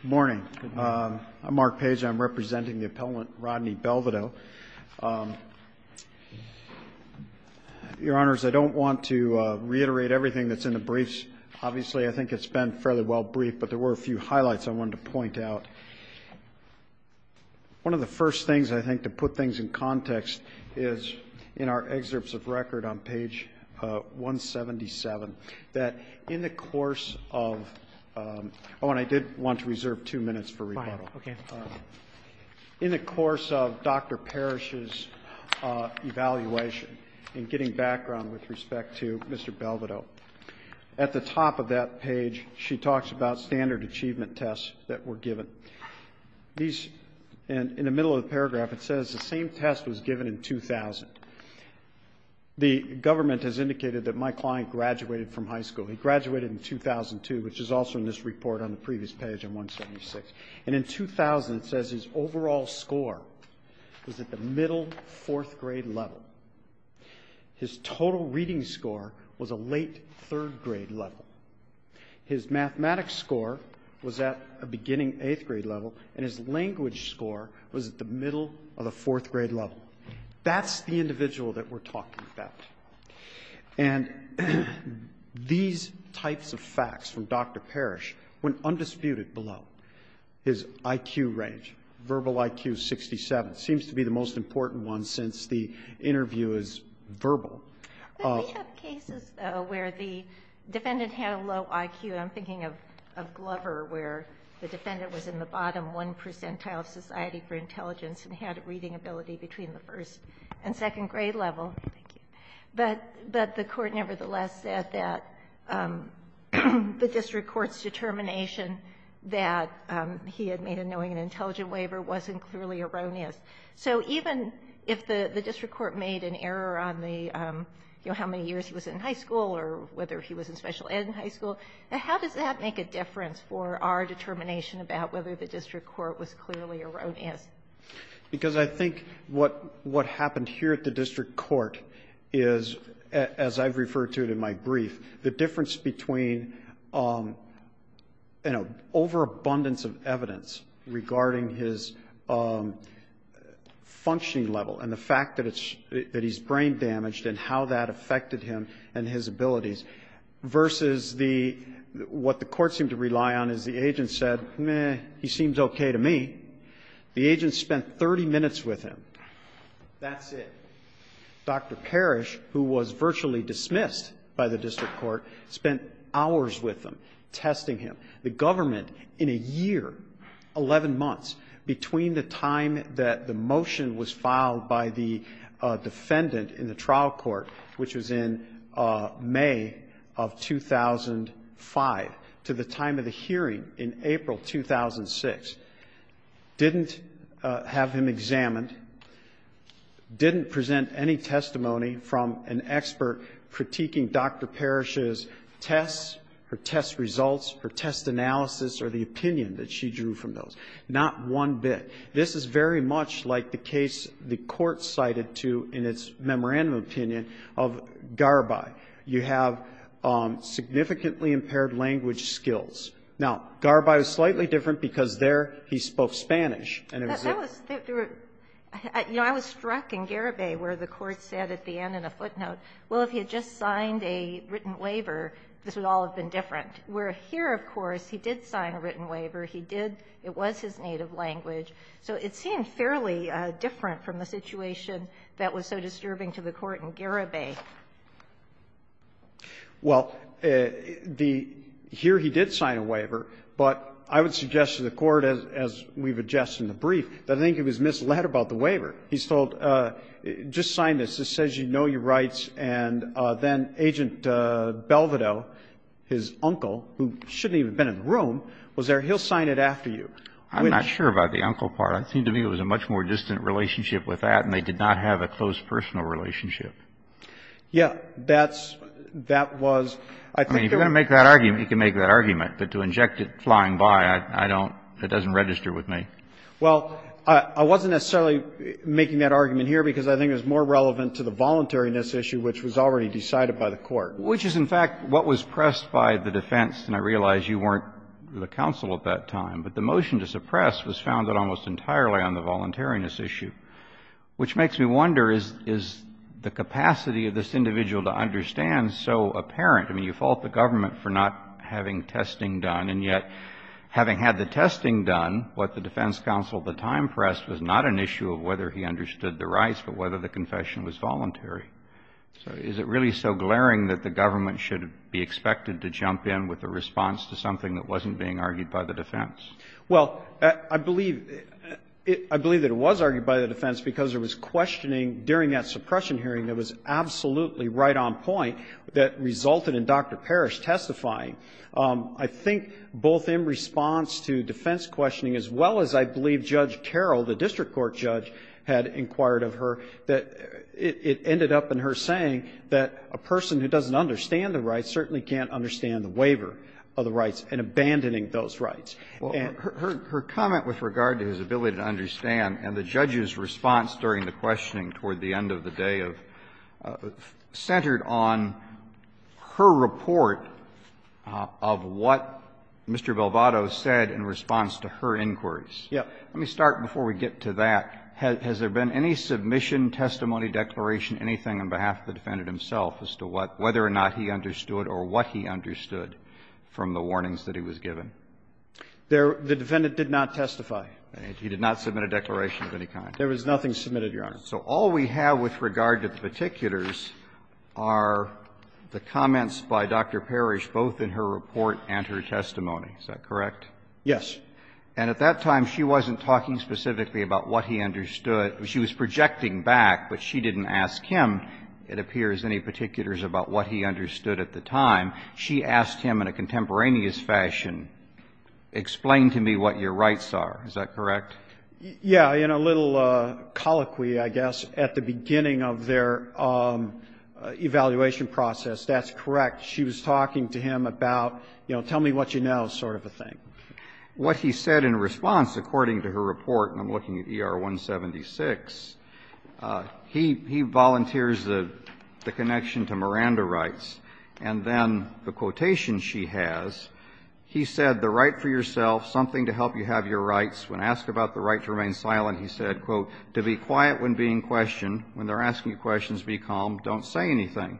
Good morning. I'm Mark Page. I'm representing the appellant Rodney Belvado. Your Honors, I don't want to reiterate everything that's in the briefs. Obviously, I think it's been fairly well briefed, but there were a few highlights I wanted to point out. One of the first things, I think, to put things in context is in our excerpts of record on page 177, that in the course of – oh, and I did want to reserve two minutes for rebuttal. In the course of Dr. Parrish's evaluation and getting background with respect to Mr. Belvado, at the top of that page, she talks about standard achievement tests that were given. In the middle of the paragraph, it says the same test was given in 2000. The government has indicated that my client graduated from high school. He graduated in 2002, which is also in this report on the previous page on 176. And in 2000, it says his overall score was at the middle fourth-grade level. His total reading score was a late third-grade level. His mathematics score was at a beginning eighth-grade level, and his language score was at the middle of the fourth-grade level. That's the individual that we're talking about. And these types of facts from Dr. Parrish, when undisputed below his IQ range, verbal IQ 67 seems to be the most important one since the interview is verbal. We have cases, though, where the defendant had a low IQ. I'm thinking of Glover, where the defendant was in the bottom one percentile of Society for Intelligence and had a reading ability between the first and second grade level. But the court nevertheless said that the district court's determination that he had made a knowing and intelligent waiver wasn't clearly erroneous. So even if the district court made an error on how many years he was in high school or whether he was in special ed in high school, how does that make a difference for our determination about whether the district court was clearly erroneous? Because I think what happened here at the district court is, as I've referred to it in my brief, the difference between an overabundance of evidence regarding his functioning level and the fact that he's brain damaged and how that affected him and his abilities versus what the court seemed to rely on is the agent said, meh, he seems okay to me. The agent spent 30 minutes with him. That's it. Dr. Parrish, who was virtually dismissed by the district court, spent hours with him testing him. The government in a year, 11 months, between the time that the motion was filed by the defendant in the trial court, which was in May of 2005 to the time of the hearing in April 2006, didn't have him examined, didn't present any testimony from an expert critiquing Dr. Parrish's tests or test results or test analysis or the opinion that she drew from those. Not one bit. This is very much like the case the court cited to in its memorandum opinion of Garibay. You have significantly impaired language skills. Now, Garibay was slightly different because there he spoke Spanish. And it was there. You know, I was struck in Garibay where the court said at the end in a footnote, well, if he had just signed a written waiver, this would all have been different, where here, of course, he did sign a written waiver. He did. It was his native language. So it seemed fairly different from the situation that was so disturbing to the court in Garibay. Well, here he did sign a waiver, but I would suggest to the court, as we've addressed in the brief, that I think it was misled about the waiver. He's told, just sign this. This says you know your rights. And then Agent Belvedo, his uncle, who shouldn't even have been in the room, was there. He'll sign it after you. I'm not sure about the uncle part. It seemed to me it was a much more distant relationship with that, and they did not have a close personal relationship. Yeah. That's, that was, I think it was. I mean, if you're going to make that argument, you can make that argument. But to inject it flying by, I don't, it doesn't register with me. Well, I wasn't necessarily making that argument here because I think it was more relevant to the voluntariness issue, which was already decided by the court. But which is, in fact, what was pressed by the defense, and I realize you weren't the counsel at that time. But the motion to suppress was founded almost entirely on the voluntariness issue, which makes me wonder, is the capacity of this individual to understand so apparent? I mean, you fault the government for not having testing done, and yet having had the testing done, what the defense counsel at the time pressed was not an issue of whether he understood the rights, but whether the confession was voluntary. So is it really so glaring that the government should be expected to jump in with a response to something that wasn't being argued by the defense? Well, I believe, I believe that it was argued by the defense because there was questioning during that suppression hearing that was absolutely right on point that resulted in Dr. Parrish testifying. I think both in response to defense questioning, as well as I believe Judge Carroll, the district court judge, had inquired of her that it ended up in her saying that a person who doesn't understand the rights certainly can't understand the waiver of the rights and abandoning those rights. Her comment with regard to his ability to understand and the judge's response during the questioning toward the end of the day centered on her report of what Mr. Belvado said in response to her inquiries. Yes. Let me start before we get to that. Has there been any submission, testimony, declaration, anything on behalf of the defendant himself as to what, whether or not he understood or what he understood from the warnings that he was given? The defendant did not testify. He did not submit a declaration of any kind? There was nothing submitted, Your Honor. So all we have with regard to the particulars are the comments by Dr. Parrish both in her report and her testimony. Is that correct? Yes. And at that time, she wasn't talking specifically about what he understood. She was projecting back, but she didn't ask him, it appears, any particulars about what he understood at the time. She asked him in a contemporaneous fashion, explain to me what your rights are. Is that correct? Yes. In a little colloquy, I guess, at the beginning of their evaluation process. That's correct. She was talking to him about, you know, tell me what you know sort of a thing. What he said in response, according to her report, and I'm looking at ER 176, he volunteers the connection to Miranda rights. And then the quotation she has, he said, the right for yourself, something to help you have your rights, when asked about the right to remain silent, he said, quote, to be quiet when being questioned, when they're asking you questions, be calm, don't say anything.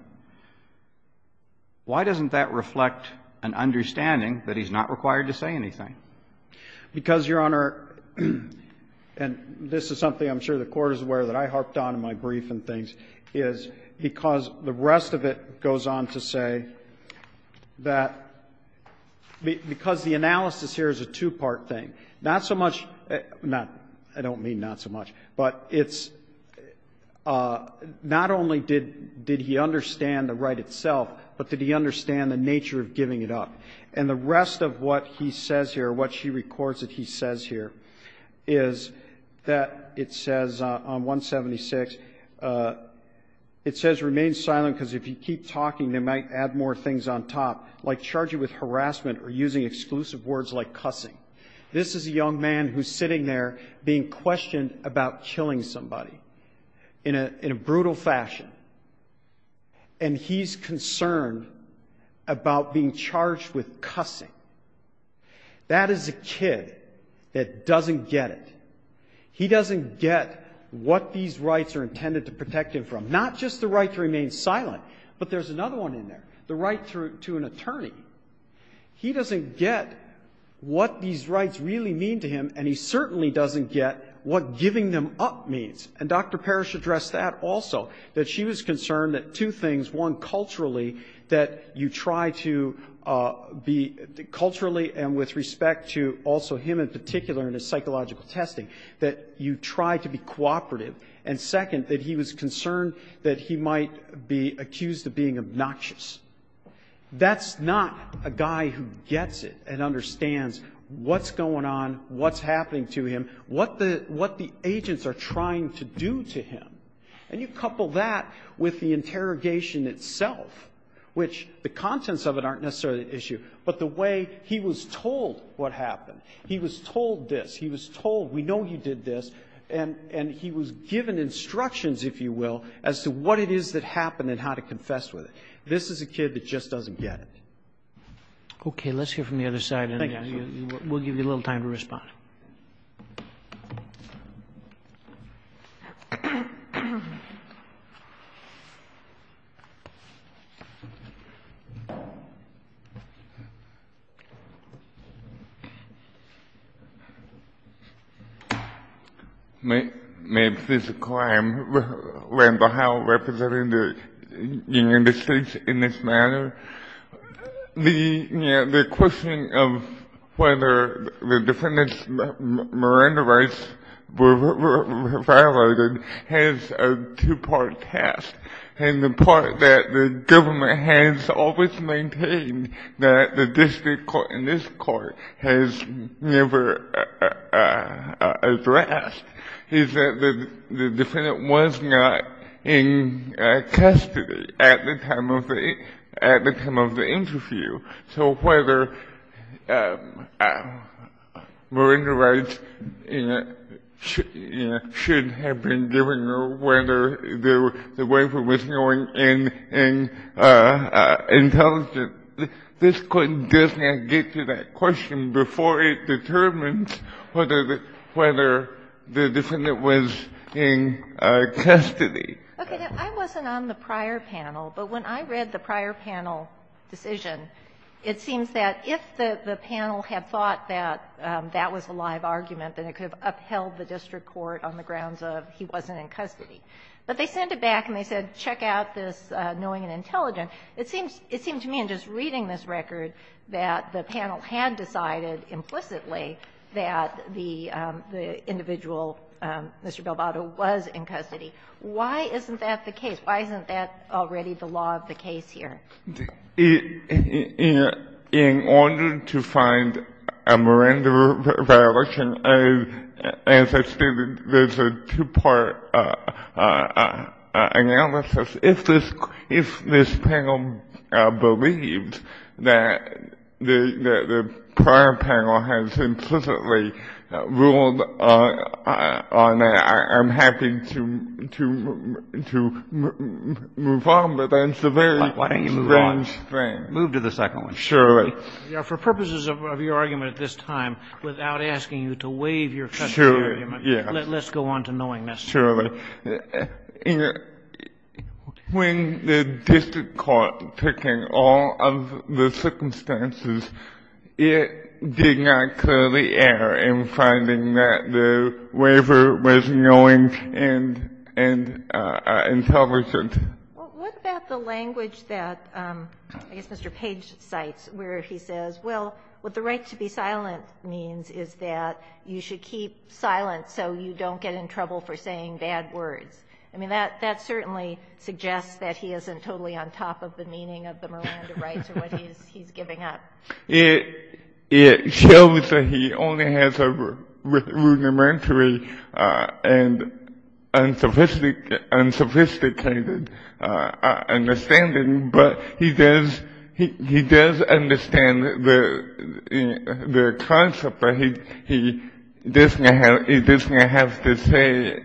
Why doesn't that reflect an understanding that he's not required to say anything? Because, Your Honor, and this is something I'm sure the Court is aware that I harped on in my brief and things, is because the rest of it goes on to say that because the analysis here is a two-part thing. Not so much, not, I don't mean not so much, but it's, not only did he understand the right itself, but did he understand the nature of giving it up. And the rest of what he says here, what she records that he says here, is that it says on 176, it says remain silent because if you keep talking, they might add more things on top, like charge you with harassment or using exclusive words like cussing. This is a young man who's sitting there being questioned about killing somebody in a brutal fashion, and he's concerned about being charged with cussing. That is a kid that doesn't get it. He doesn't get what these rights are intended to protect him from, not just the right to remain silent, but there's another one in there, the right to an attorney. He doesn't get what these rights really mean to him, and he certainly doesn't get what giving them up means, and Dr. Parrish addressed that also, that she was concerned that two things, one, culturally, that you try to be, culturally and with respect to also him in particular and his psychological testing, that you try to be cooperative, and second, that he was concerned that he might be accused of being obnoxious. That's not a guy who gets it and understands what's going on, what's happening to him, what the agents are trying to do to him. And you couple that with the interrogation itself, which the contents of it aren't necessarily the issue, but the way he was told what happened. He was told this. He was told, we know you did this, and he was given instructions, if you will, as to what it is that happened and how to confess with it. This is a kid that just doesn't get it. Okay. Let's hear from the other side, and we'll give you a little time to respond. May I please inquire, I'm Randall Howell, representing the Union of States in this matter. The question of whether the defendants, Miranda Rice, were violated has a two-part task, and the part that the government has always maintained that the district court and this court has never addressed is that the defendant was not in custody at the time of the interview. So whether Miranda Rice should have been given, or whether the waiver was going in intelligence, this court does not get to that question before it determines whether the defendant was in custody. Okay. I wasn't on the prior panel, but when I read the prior panel decision, it seems that if the panel had thought that that was a live argument, then it could have upheld the district court on the grounds of he wasn't in custody. But they sent it back and they said, check out this knowing and intelligent. It seems to me in just reading this record that the panel had decided implicitly why isn't that the case? Why isn't that already the law of the case here? In order to find a Miranda violation, as I stated, there's a two-part analysis. If this panel believes that the prior panel has implicitly ruled on that, I'm happy to move on, but that's a very strange thing. Why don't you move on? Move to the second one. Surely. For purposes of your argument at this time, without asking you to waive your custody argument, let's go on to knowing necessarily. Sure. When the district court took in all of the circumstances, it did not clearly err in finding that the waiver was knowing and intelligent. Well, what about the language that, I guess, Mr. Page cites, where he says, well, what the right to be silent means is that you should keep silent so you don't get in trouble for saying bad words. I mean, that certainly suggests that he isn't totally on top of the meaning of the Miranda rights or what he's giving up. It shows that he only has a rudimentary and unsophisticated understanding, but he does understand the concept that he doesn't have to say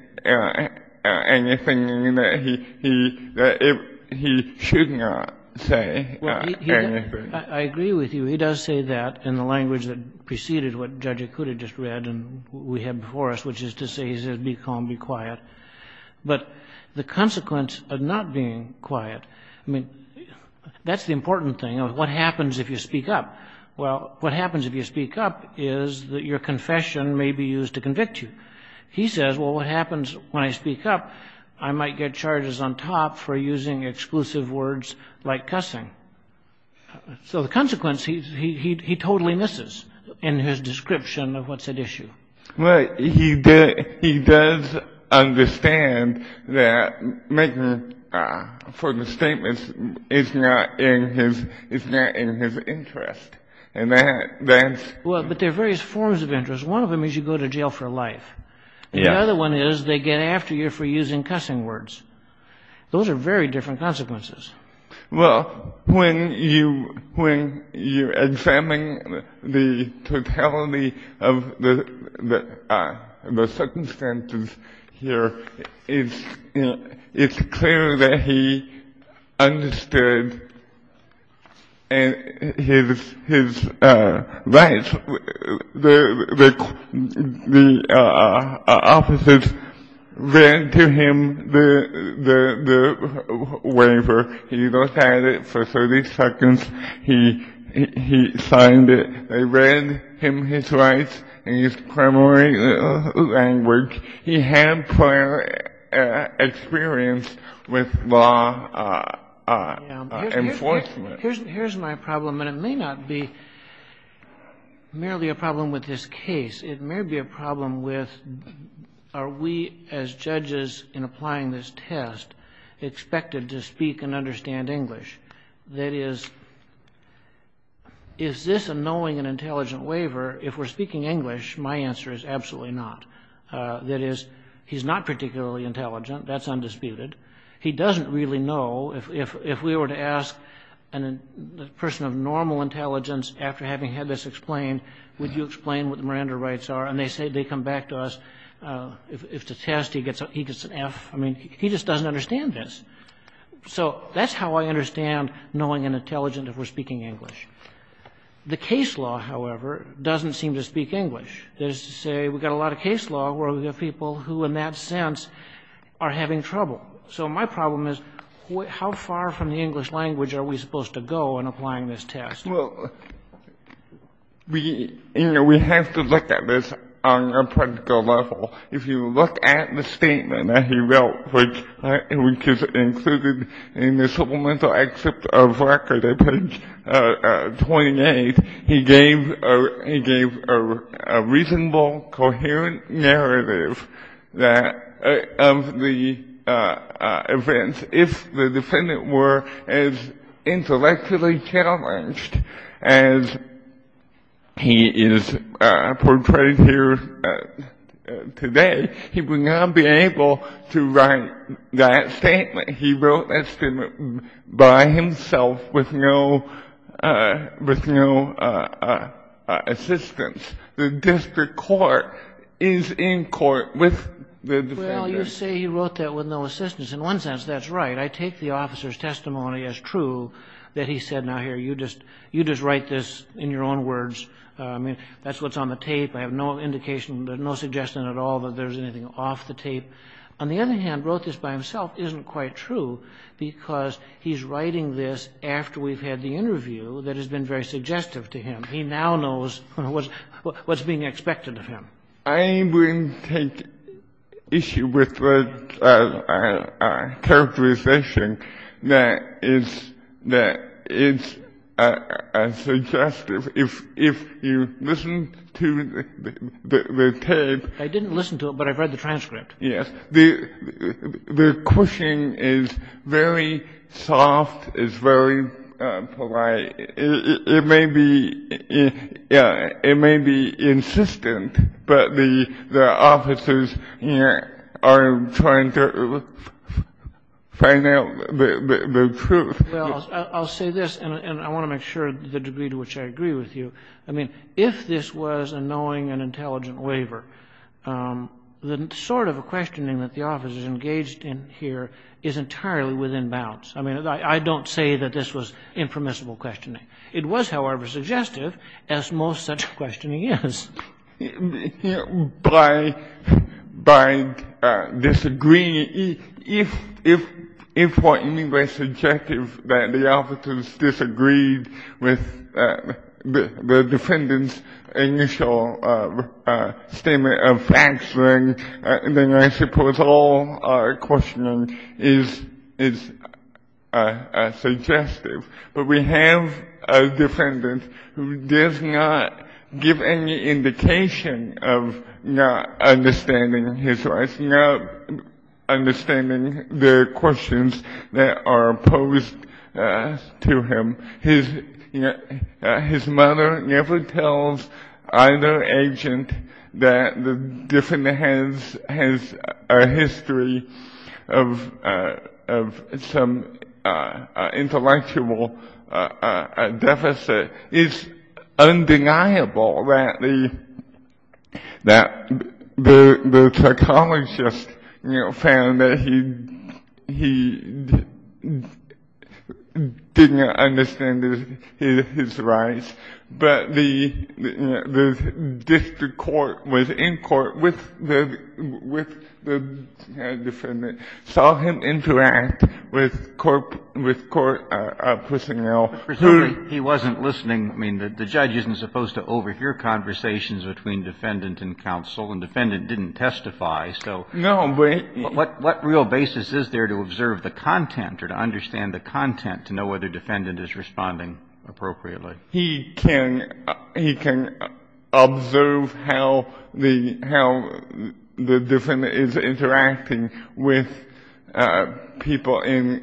anything that he should not say anything. I agree with you. He does say that in the language that preceded what Judge Akuta just read and we had before us, which is to say, he says, be calm, be quiet. But the consequence of not being quiet, I mean, that's the important thing. What happens if you speak up? Well, what happens if you speak up is that your confession may be used to convict you. He says, well, what happens when I speak up? I might get charges on top for using exclusive words like cussing. So the consequence, he totally misses in his description of what's at issue. Well, he does understand that making statements is not in his interest. Well, but there are various forms of interest. One of them is you go to jail for life. The other one is they get after you for using cussing words. Those are very different consequences. Well, when you examine the totality of the circumstances here, it's clear that he He goes at it for 30 seconds. He signed it. They read him his rights in his primary language. He had prior experience with law enforcement. Here's my problem, and it may not be merely a problem with this case. It may be a problem with are we, as judges in applying this test, expected to speak and understand English? That is, is this a knowing and intelligent waiver? If we're speaking English, my answer is absolutely not. That is, he's not particularly intelligent. That's undisputed. He doesn't really know. If we were to ask a person of normal intelligence, after having had this explained, would you explain what the Miranda rights are? And they say they come back to us. If it's a test, he gets an F. I mean, he just doesn't understand this. So that's how I understand knowing and intelligent if we're speaking English. The case law, however, doesn't seem to speak English. That is to say, we've got a lot of case law where we have people who, in that sense, are having trouble. So my problem is how far from the English language are we supposed to go in applying this test? Well, we have to look at this on a practical level. If you look at the statement that he wrote, which is included in the supplemental excerpt of record at page 28, he gave a reasonable, coherent narrative of the events. If the defendant were as intellectually challenged as he is portrayed here today, he would not be able to write that statement. He wrote that statement by himself with no assistance. The district court is in court with the defendant. Well, you say he wrote that with no assistance. In one sense, that's right. I take the officer's testimony as true, that he said, now, here, you just write this in your own words. I mean, that's what's on the tape. I have no indication, no suggestion at all. That there's anything off the tape. On the other hand, wrote this by himself isn't quite true because he's writing this after we've had the interview that has been very suggestive to him. He now knows what's being expected of him. I wouldn't take issue with the characterization that is suggestive. If you listen to the tape. I didn't listen to it, but I've read the transcript. Yes. The questioning is very soft, is very polite. It may be insistent, but the officers are trying to find out the truth. Well, I'll say this, and I want to make sure to the degree to which I agree with you. I mean, if this was a knowing and intelligent waiver, the sort of questioning that the officers engaged in here is entirely within bounds. I mean, I don't say that this was impermissible questioning. It was, however, suggestive, as most such questioning is. By disagreeing, if what you mean by suggestive, that the officers disagreed with the defendant's initial statement of facts, then I suppose all our questioning is suggestive. But we have a defendant who does not give any indication of not understanding his rights, not understanding the questions that are posed to him. His mother never tells either agent that the defendant has a history of some intellectual deficit. It's undeniable that the psychologist found that he did not understand his rights. But the district court was in court with the defendant, saw him interact with court personnel. He wasn't listening. I mean, the judge isn't supposed to overhear conversations between defendant and counsel, and defendant didn't testify. So what real basis is there to observe the content or to understand the content to know whether defendant is responding appropriately? He can observe how the defendant is interacting with people in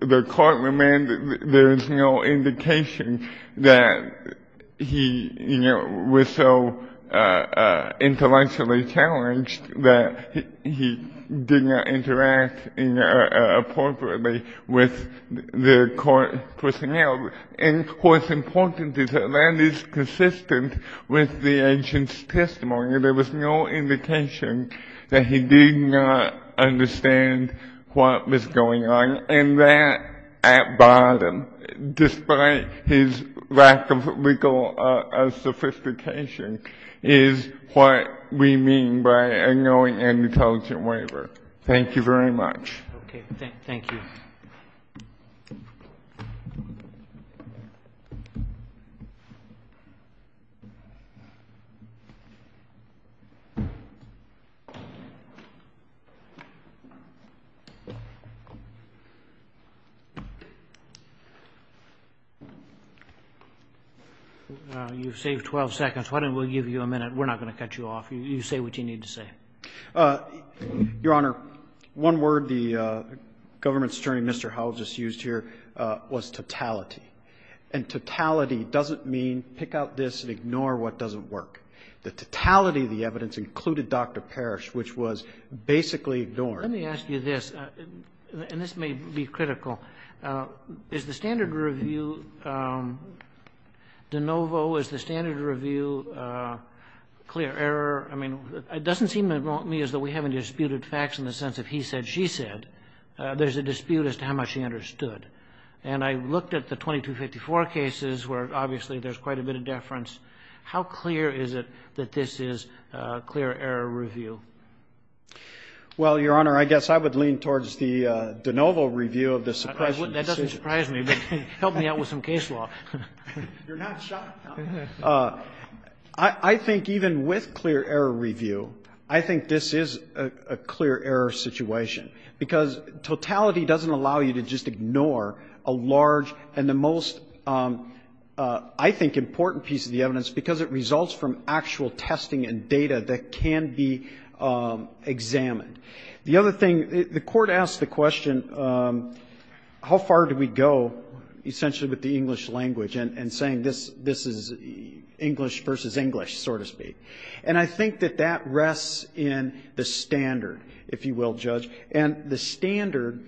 the courtroom and there is no indication that he was so intellectually challenged that he did not interact appropriately with the court personnel. And of course, important is that that is consistent with the agent's testimony. There was no indication that he did not understand what was going on. And that, at bottom, despite his lack of legal sophistication, is what we mean by a knowing and intelligent waiver. Thank you very much. Okay. Thank you. You've saved 12 seconds. Why don't we give you a minute? We're not going to cut you off. You say what you need to say. Your Honor, one word the government attorney, Mr. Howell, just used here was totality. And totality doesn't mean pick out this and ignore what doesn't work. The totality of the evidence included Dr. Parrish, which was basically ignored. Let me ask you this, and this may be critical, is the standard review de novo? Is the standard review clear error? I mean, it doesn't seem to me as though we haven't disputed facts in the sense of he said, she said. There's a dispute as to how much he understood. And I looked at the 2254 cases where obviously there's quite a bit of deference. How clear is it that this is clear error review? Well, Your Honor, I guess I would lean towards the de novo review of the suppression decision. That doesn't surprise me, but help me out with some case law. You're not shocked. I think even with clear error review, I think this is a clear error situation, because totality doesn't allow you to just ignore a large and the most, I think, important piece of the evidence, because it results from actual testing and data that can be examined. The other thing, the Court asked the question, how far do we go, essentially, with the English language, and saying this is English versus English, so to speak. And I think that that rests in the standard, if you will, Judge. And the standard,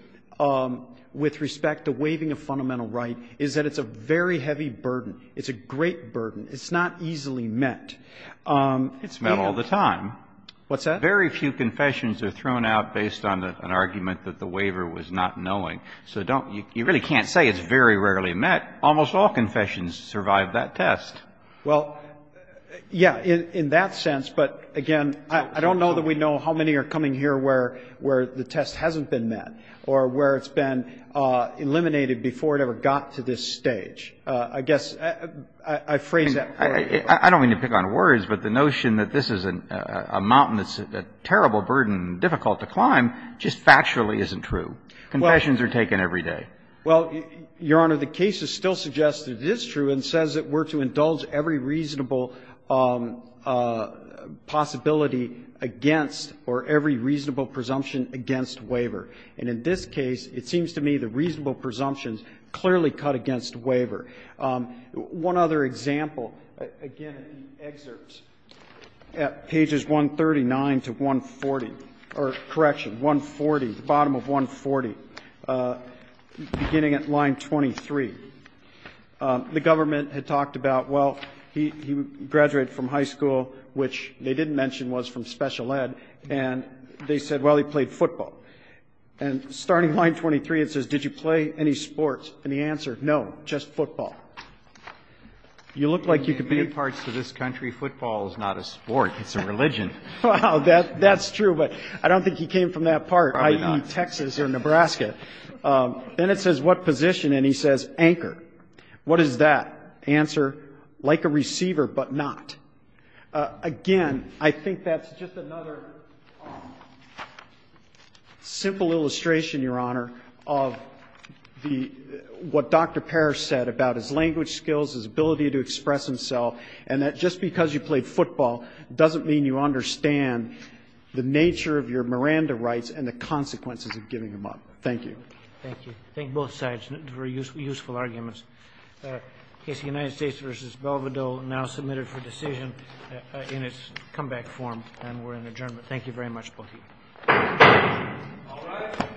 with respect to waiving a fundamental right, is that it's a very heavy burden. It's a great burden. It's not easily met. It's met all the time. What's that? Very few confessions are thrown out based on an argument that the waiver was not knowing. So don't you really can't say it's very rarely met. Almost all confessions survive that test. Well, yeah, in that sense, but again, I don't know that we know how many are coming here where the test hasn't been met or where it's been eliminated before it ever got to this stage. I guess I phrase that poorly. I don't mean to pick on words, but the notion that this is a mountain that's a terrible burden, difficult to climb, just factually isn't true. Confessions are taken every day. Well, Your Honor, the case still suggests it is true and says that we're to indulge every reasonable possibility against or every reasonable presumption against waiver. And in this case, it seems to me the reasonable presumptions clearly cut against waiver. One other example, again, excerpts at pages 139 to 140, or correction, 140, the bottom of 140, beginning at line 23. The government had talked about, well, he graduated from high school, which they didn't mention was from special ed, and they said, well, he played football. And starting line 23, it says, did you play any sports? And the answer, no, just football. You look like you could be in parts of this country. Football is not a sport. It's a religion. Well, that's true, but I don't think he came from that part, i.e., Texas or Nebraska. Then it says, what position? And he says, anchor. What is that? Answer, like a receiver, but not. Again, I think that's just another simple illustration, Your Honor, of what Dr. Parrish said about his language skills, his ability to express himself, and that just because you played football doesn't mean you understand the nature of your Miranda rights and the consequences of giving them up. Thank you. Thank you. Thank both sides for useful arguments. The case of the United States v. Belvedere now submitted for decision in its comeback form, and we're in adjournment. Thank you very much, both of you. All rise.